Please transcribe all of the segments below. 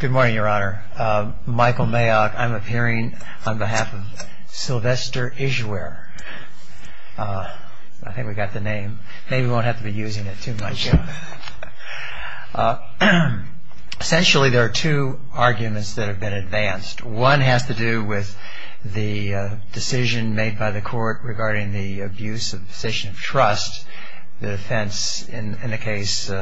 Good morning, Your Honor. Michael Mayock. I'm appearing on behalf of Sylvester Ijewere. I think we got the name. Maybe we won't have to be using it too much. Essentially, there are two arguments that have been advanced. One has to do with the decision made by the court regarding the abuse of position of trust. The defense in the case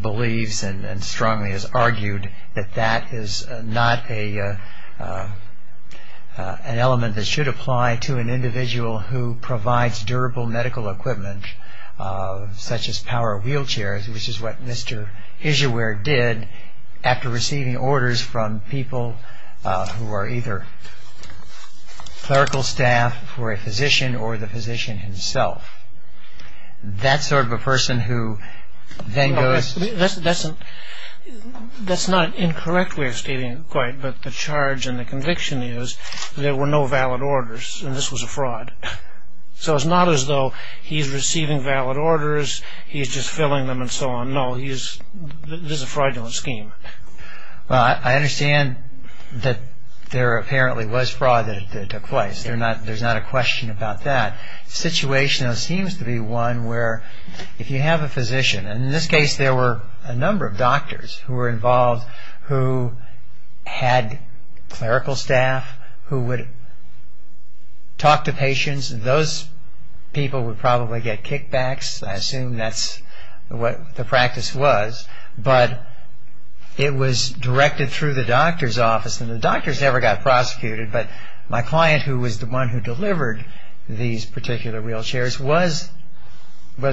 believes and strongly has argued that that is not an element that should apply to an individual who provides durable medical equipment such as power wheelchairs, which is what Mr. Ijewere did after receiving orders from people who are either clerical staff for a physician or the physician himself. That sort of a person who then goes... That's not incorrect way of stating it quite, but the charge and the conviction is there were no valid orders and this was a fraud. So it's not as though he's receiving valid orders, he's just filling them and so on. No, this is a fraudulent scheme. Well, I understand that there apparently was fraud that took place. There's not a question about that. The situation seems to be one where if you have a physician, and in this case there were a number of doctors who were involved who had clerical staff who would talk to patients. Those people would probably get kickbacks. I assume that's what the practice was, but it was directed through the doctor's office and the doctors never got prosecuted, but my client who was the one who delivered these particular wheelchairs was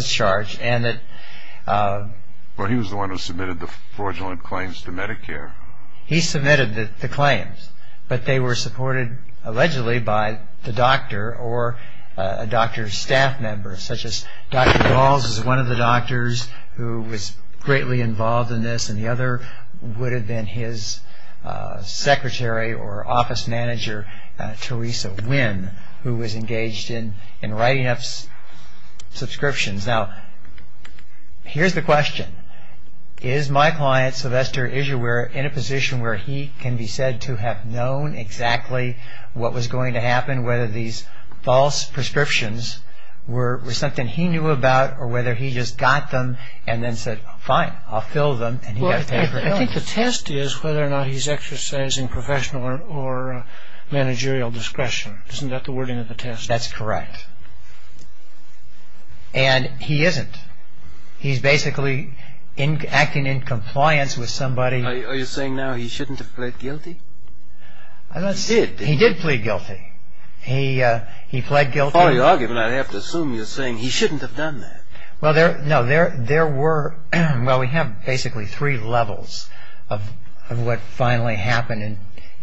charged and that... Well, he was the one who submitted the fraudulent claims to Medicare. He submitted the claims, but they were supported allegedly by the doctor or a doctor's staff member, such as Dr. Galls is one of the doctors who was greatly involved in this and the other would have been his secretary or office manager, Teresa Nguyen, who was engaged in writing up subscriptions. Now, here's the question. Is my client, Sylvester Isuer, in a position where he can be said to have known exactly what was going to happen, whether these false prescriptions were something he knew about or whether he just got them and then said, fine, I'll fill them and he got paid for it? Well, I think the test is whether or not he's exercising professional or managerial discretion. Isn't that the wording of the test? That's correct. And he isn't. He's basically acting in compliance with somebody... Are you saying now he shouldn't have pled guilty? He did plead guilty. He pled guilty... If I were you, I'd have to assume you're saying he shouldn't have done that. Well, we have basically three levels of what finally happened and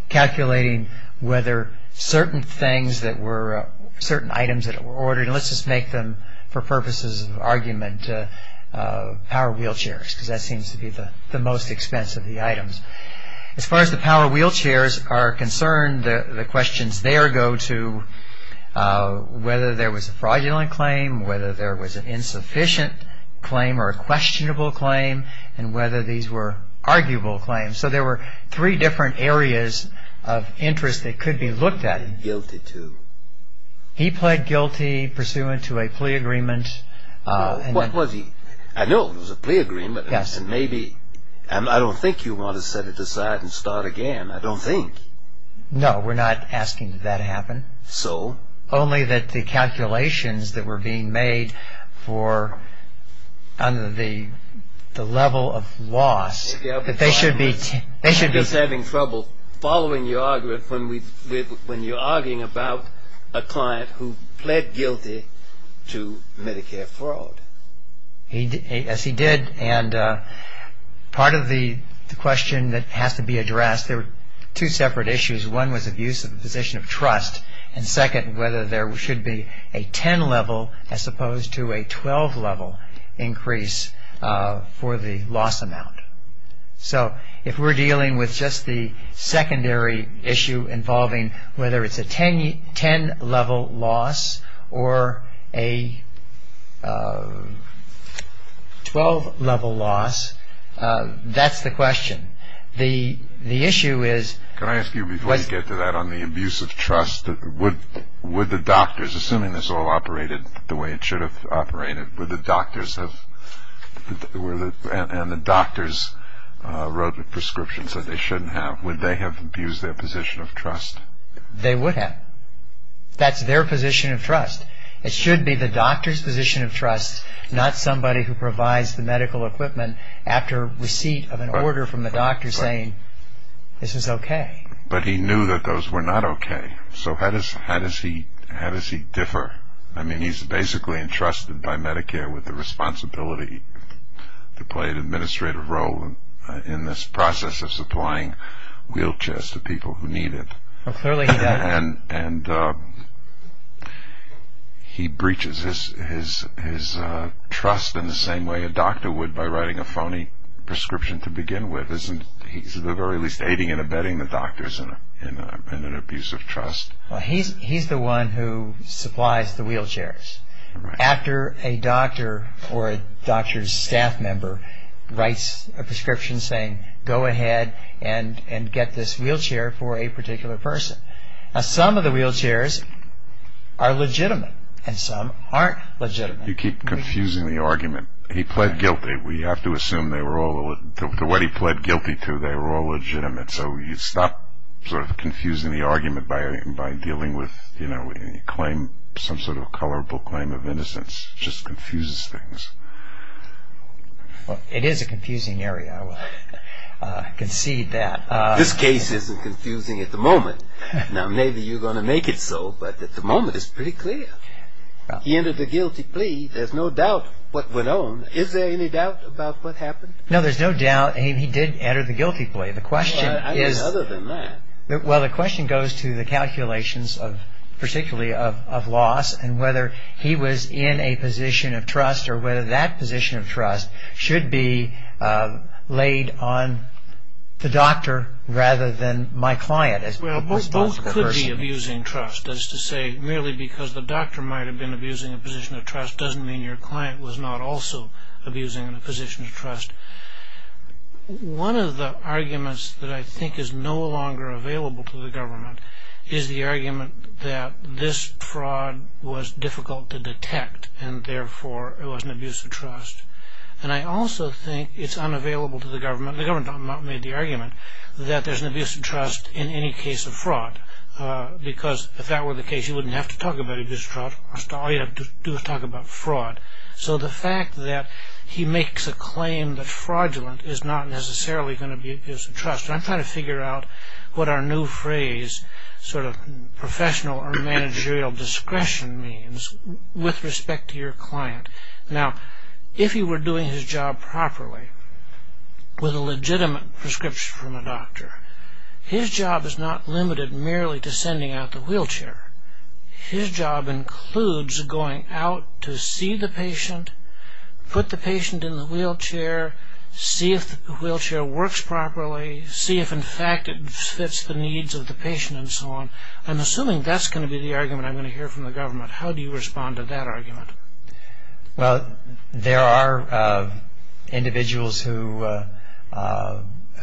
calculating whether certain items that were ordered, and let's just make them, for purposes of argument, power wheelchairs, because that seems to be the most expensive of the items. As far as the power wheelchairs are concerned, the questions there go to whether there was a fraudulent claim, whether there was an insufficient claim or a questionable claim, and whether these were arguable claims. So there were three different areas of interest that could be looked at. He pled guilty to... He pled guilty pursuant to a plea agreement. What was he... I know it was a plea agreement. Yes. And I don't think you want to set it aside and start again, I don't think. No, we're not asking that to happen. So? Only that the calculations that were being made for... under the level of loss, that they should be... You're just having trouble following your argument when you're arguing about a client who pled guilty to Medicare fraud. Yes, he did. And part of the question that has to be addressed, there were two separate issues. One was abuse of the position of trust. And second, whether there should be a 10-level as opposed to a 12-level increase for the loss amount. So if we're dealing with just the secondary issue involving whether it's a 10-level loss or a 12-level loss, that's the question. The issue is... Can I ask you before we get to that on the abuse of trust, would the doctors, assuming this all operated the way it should have operated, would the doctors have... and the doctors wrote prescriptions that they shouldn't have, would they have abused their position of trust? They would have. That's their position of trust. It should be the doctor's position of trust, not somebody who provides the medical equipment after receipt of an order from the doctor saying, this is okay. But he knew that those were not okay. So how does he differ? I mean, he's basically entrusted by Medicare with the responsibility to play an administrative role in this process of supplying wheelchairs to people who need it. And he breaches his trust in the same way a doctor would by writing a phony prescription to begin with. He's at the very least aiding and abetting the doctors in an abuse of trust. He's the one who supplies the wheelchairs. After a doctor or a doctor's staff member writes a prescription saying, go ahead and get this wheelchair for a particular person. Now, some of the wheelchairs are legitimate and some aren't legitimate. You keep confusing the argument. He pled guilty. We have to assume they were all, to what he pled guilty to, they were all legitimate. So you stop sort of confusing the argument by dealing with, you know, a claim, some sort of a colorable claim of innocence just confuses things. Well, it is a confusing area. I will concede that. This case isn't confusing at the moment. Now, maybe you're going to make it so, but at the moment it's pretty clear. He entered the guilty plea. There's no doubt what went on. Is there any doubt about what happened? No, there's no doubt he did enter the guilty plea. The question is... Well, I mean, other than that. Well, the question goes to the calculations of particularly of loss and whether he was in a position of trust or whether that position of trust should be laid on the doctor rather than my client. Well, both could be abusing trust. That is to say, merely because the doctor might have been abusing a position of trust doesn't mean your client was not also abusing a position of trust. One of the arguments that I think is no longer available to the government is the argument that this fraud was difficult to detect and therefore it was an abuse of trust. And I also think it's unavailable to the government. The government made the argument that there's an abuse of trust in any case of fraud because if that were the case, you wouldn't have to talk about abuse of trust. All you have to do is talk about fraud. So the fact that he makes a claim that fraudulent is not necessarily going to be an abuse of trust. I'm trying to figure out what our new phrase, sort of professional or managerial discretion means with respect to your client. Now, if he were doing his job properly with a legitimate prescription from a doctor, his job is not limited merely to sending out the wheelchair. His job includes going out to see the patient, put the patient in the wheelchair, see if the wheelchair works properly, see if in fact it fits the needs of the patient and so on. I'm assuming that's going to be the argument I'm going to hear from the government. How do you respond to that argument? Well, there are individuals who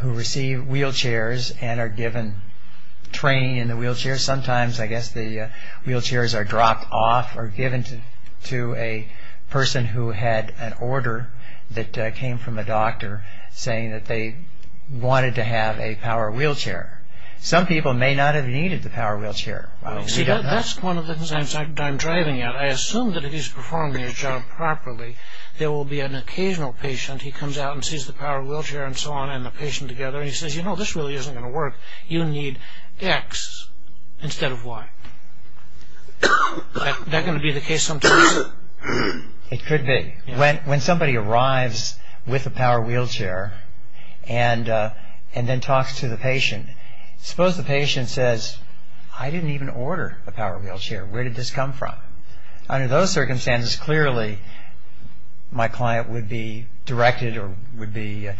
receive wheelchairs and are given training in the wheelchair. Sometimes, I guess, the wheelchairs are dropped off or given to a person who had an order that came from a doctor saying that they wanted to have a power wheelchair. Some people may not have needed the power wheelchair. See, that's one of the things I'm driving at. I assume that if he's performing his job properly, there will be an occasional patient. He comes out and sees the power wheelchair and so on and the patient together. He says, you know, this really isn't going to work. You need X instead of Y. Is that going to be the case sometimes? It could be. When somebody arrives with a power wheelchair and then talks to the patient, suppose the patient says, I didn't even order a power wheelchair. Where did this come from? Under those circumstances, clearly, my client would be directed or would be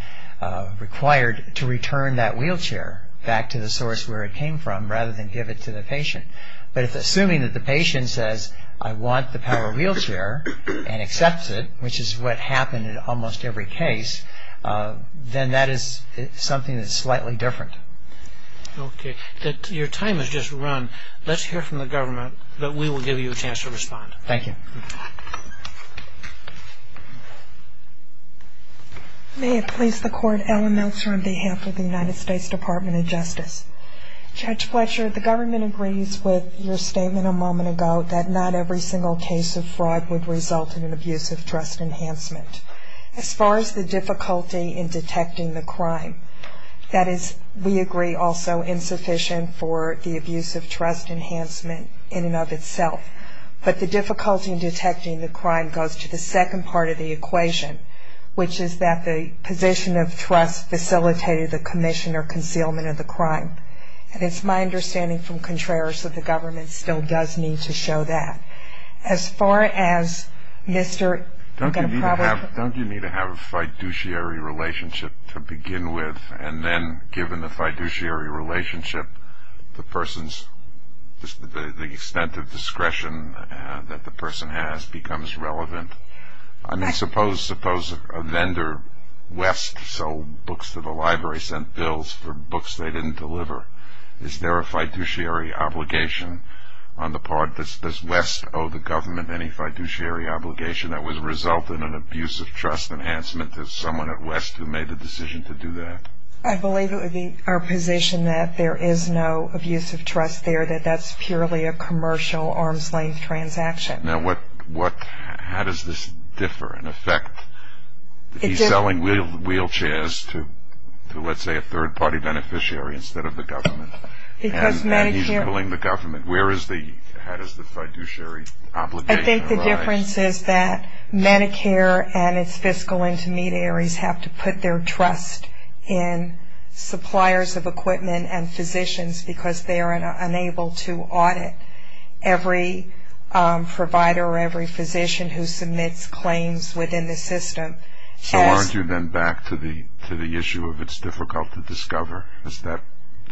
required to return that wheelchair back to the source where it came from rather than give it to the patient. But if assuming that the patient says, I want the power wheelchair and accepts it, which is what happened in almost every case, then that is something that's slightly different. Okay. Your time has just run. Let's hear from the government, but we will give you a chance to respond. Thank you. May it please the Court, Ellen Meltzer on behalf of the United States Department of Justice. Judge Fletcher, the government agrees with your statement a moment ago that not every single case of fraud would result in an abuse of trust enhancement. As far as the difficulty in detecting the crime, that is, we agree, also insufficient for the abuse of trust enhancement in and of itself. But the difficulty in detecting the crime goes to the second part of the equation, which is that the position of trust facilitated the commission or concealment of the crime. And it's my understanding from Contreras that the government still does need to show that. As far as Mr. Don't you need to have a fiduciary relationship to begin with, and then given the fiduciary relationship, the person's, the extent of discretion that the person has becomes relevant. I mean, suppose a vendor, West, sold books to the library, sent bills for books they didn't deliver. Is there a fiduciary obligation on the part, does West owe the government any fiduciary obligation that would result in an abuse of trust enhancement to someone at West who made the decision to do that? I believe it would be our position that there is no abuse of trust there, that that's purely a commercial arm's-length transaction. Now, what, how does this differ in effect? He's selling wheelchairs to, let's say, a third-party beneficiary instead of the government. Because Medicare And he's billing the government. Where is the, how does the fiduciary obligation arise? I think the difference is that Medicare and its fiscal intermediaries have to put their trust in suppliers of equipment and physicians because they are unable to audit every provider or every physician who submits claims within the system. So aren't you then back to the issue of it's difficult to discover?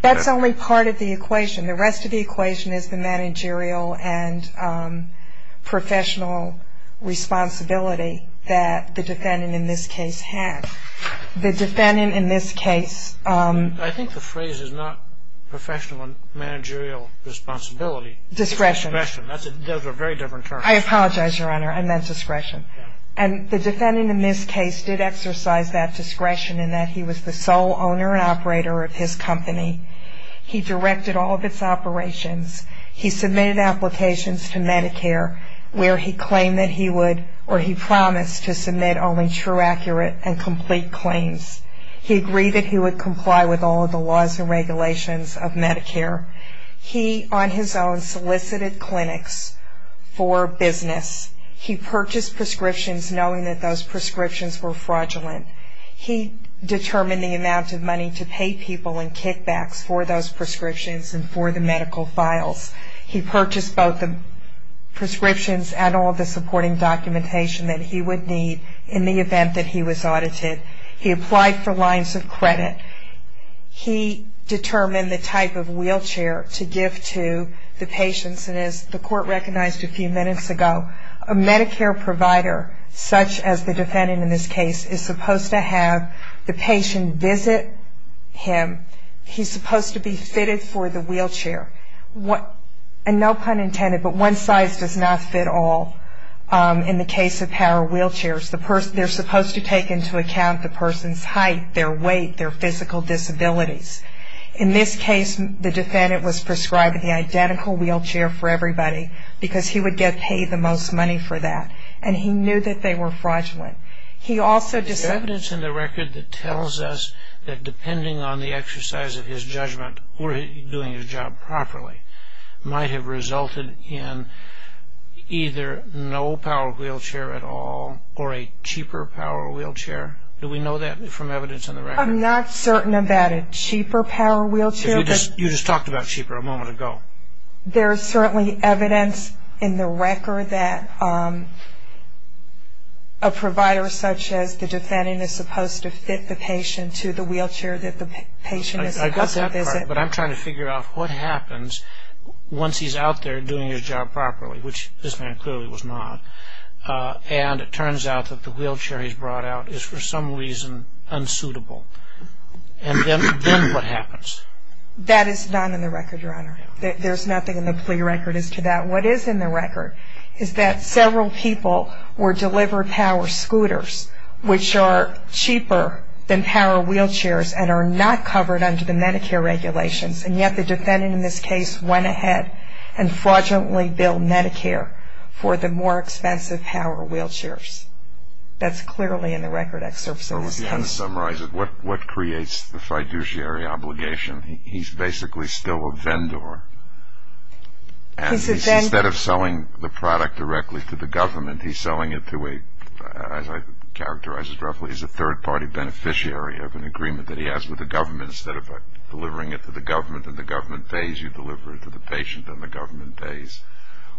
That's only part of the equation. The rest of the equation is the managerial and professional responsibility that the defendant in this case had. The defendant in this case I think the phrase is not professional and managerial responsibility. Discretion. Discretion. That's a very different term. I apologize, Your Honor. I meant discretion. And the defendant in this case did exercise that discretion in that he was the sole owner and operator of his company. He directed all of its operations. He submitted applications to Medicare where he claimed that he would or he promised to submit only true, accurate, and complete claims. He agreed that he would comply with all of the laws and regulations of Medicare. He, on his own, solicited clinics for business. He purchased prescriptions knowing that those prescriptions were fraudulent. He determined the amount of money to pay people in kickbacks for those prescriptions and for the medical files. He purchased both the prescriptions and all of the supporting documentation that he would need in the event that he was audited. He applied for lines of credit. He determined the type of wheelchair to give to the patients. And as the court recognized a few minutes ago, a Medicare provider, such as the defendant in this case, is supposed to have the patient visit him. He's supposed to be fitted for the wheelchair. And no pun intended, but one size does not fit all in the case of power wheelchairs. They're supposed to take into account the person's height, their weight, their physical disabilities. In this case, the defendant was prescribed the identical wheelchair for everybody because he would get paid the most money for that. And he knew that they were fraudulent. He also decided... Is there evidence in the record that tells us that depending on the exercise of his judgment or doing his job properly might have resulted in either no power wheelchair at all or a cheaper power wheelchair? Do we know that from evidence in the record? I'm not certain about a cheaper power wheelchair. You just talked about cheaper a moment ago. There is certainly evidence in the record that a provider, such as the defendant, is supposed to fit the patient to the wheelchair that the patient is supposed to visit. I got that part, but I'm trying to figure out what happens once he's out there doing his job properly, which this man clearly was not. And it turns out that the wheelchair he's brought out is for some reason unsuitable. And then what happens? That is not in the record, Your Honor. There's nothing in the plea record as to that. What is in the record is that several people were delivered power scooters, which are cheaper than power wheelchairs and are not covered under the Medicare regulations. And yet the defendant in this case went ahead and fraudulently billed Medicare for the more expensive power wheelchairs. That's clearly in the record excerpts of this case. What creates the fiduciary obligation? He's basically still a vendor, and instead of selling the product directly to the government, he's selling it to a, as I characterized it roughly, he's a third-party beneficiary of an agreement that he has with the government. And instead of delivering it to the government and the government pays, you deliver it to the patient and the government pays.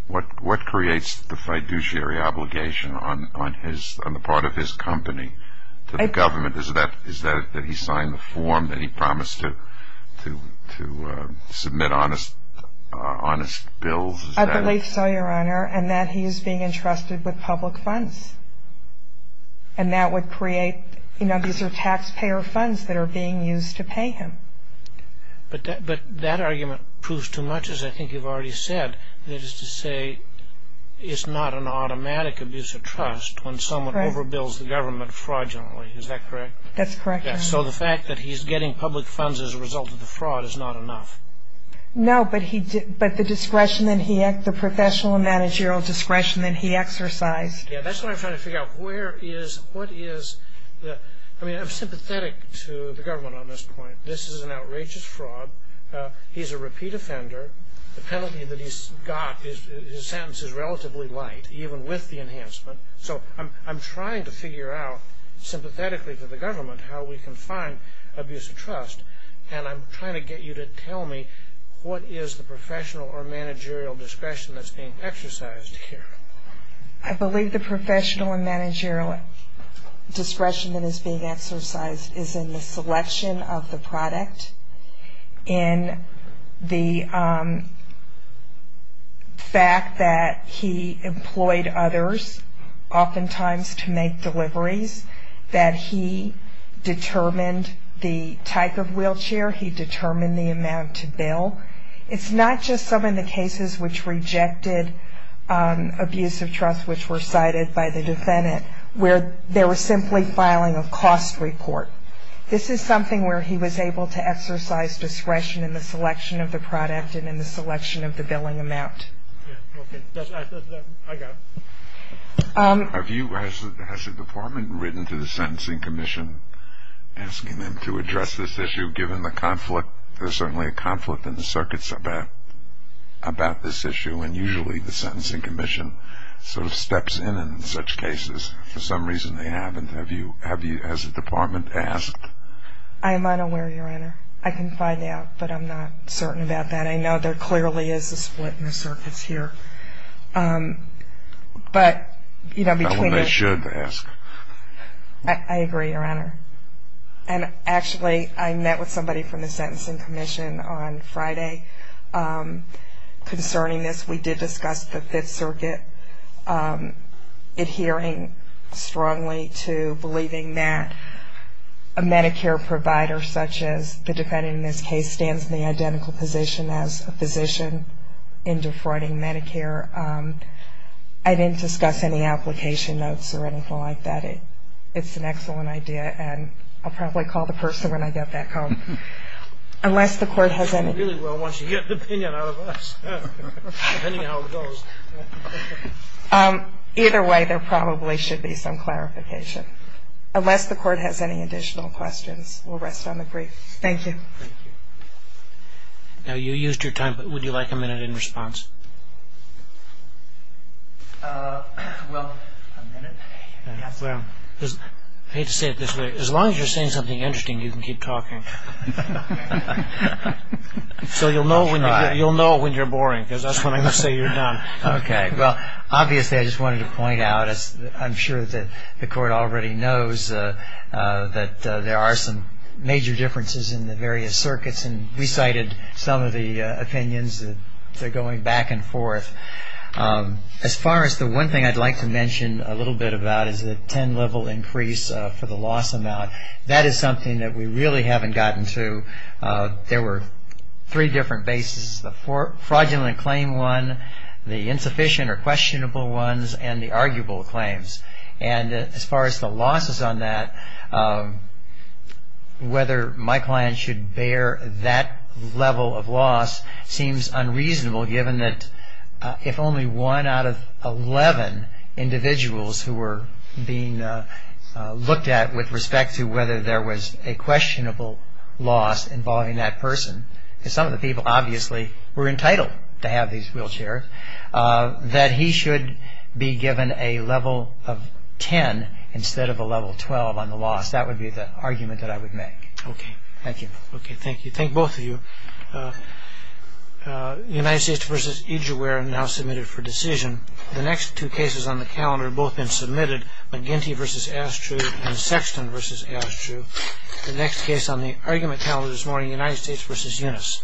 What creates the fiduciary obligation on the part of his company to the government? Is that that he signed the form that he promised to submit honest bills? I believe so, Your Honor, and that he is being entrusted with public funds. And that would create, you know, these are taxpayer funds that are being used to pay him. But that argument proves too much, as I think you've already said, that is to say it's not an automatic abuse of trust when someone overbills the government fraudulently. Is that correct? That's correct, Your Honor. So the fact that he's getting public funds as a result of the fraud is not enough? No, but the discretion that he, the professional and managerial discretion that he exercised. Yeah, that's what I'm trying to figure out. Where is, what is, I mean, I'm sympathetic to the government on this point. This is an outrageous fraud. He's a repeat offender. The penalty that he's got, his sentence is relatively light, even with the enhancement. So I'm trying to figure out sympathetically to the government how we can find abuse of trust. And I'm trying to get you to tell me what is the professional or managerial discretion that's being exercised here. I believe the professional and managerial discretion that is being exercised is in the selection of the product, in the fact that he employed others, oftentimes to make deliveries, that he determined the type of wheelchair, he determined the amount to bill. It's not just some of the cases which rejected abuse of trust, which were cited by the defendant, where they were simply filing a cost report. This is something where he was able to exercise discretion in the selection of the product and in the selection of the billing amount. Okay, I got it. Have you, has the department written to the Sentencing Commission asking them to address this issue, given the conflict? There's certainly a conflict in the circuits about this issue, and usually the Sentencing Commission sort of steps in in such cases. For some reason they haven't. Have you, as a department, asked? I am unaware, Your Honor. I can find out, but I'm not certain about that. I know there clearly is a split in the circuits here, but, you know, between the two. Well, they should ask. I agree, Your Honor. And, actually, I met with somebody from the Sentencing Commission on Friday concerning this. We did discuss the Fifth Circuit adhering strongly to believing that a Medicare provider, such as the defendant in this case, stands in the identical position as a physician in defrauding Medicare. I didn't discuss any application notes or anything like that. It's an excellent idea, and I'll probably call the person when I get back home. Unless the Court has any. She really wants to get the opinion out of us, depending on how it goes. Either way, there probably should be some clarification. Unless the Court has any additional questions, we'll rest on the brief. Thank you. Thank you. Now, you used your time, but would you like a minute in response? Well, a minute? I hate to say it this way. As long as you're saying something interesting, you can keep talking. So you'll know when you're boring, because that's when I'm going to say you're done. Okay. Well, obviously, I just wanted to point out, I'm sure that the Court already knows, that there are some major differences in the various circuits, and recited some of the opinions that are going back and forth. As far as the one thing I'd like to mention a little bit about, is the 10-level increase for the loss amount. That is something that we really haven't gotten to. There were three different bases, the fraudulent claim one, the insufficient or questionable ones, and the arguable claims. As far as the losses on that, whether my client should bear that level of loss seems unreasonable, given that if only one out of 11 individuals who were being looked at with respect to whether there was a questionable loss involving that person, because some of the people obviously were entitled to have these wheelchairs, that he should be given a level of 10 instead of a level 12 on the loss. That would be the argument that I would make. Okay. Thank you. Okay, thank you. Thank both of you. United States v. Egerware now submitted for decision. The next two cases on the calendar have both been submitted, McGinty v. Astrew and Sexton v. Astrew. The next case on the argument calendar this morning, United States v. Unis.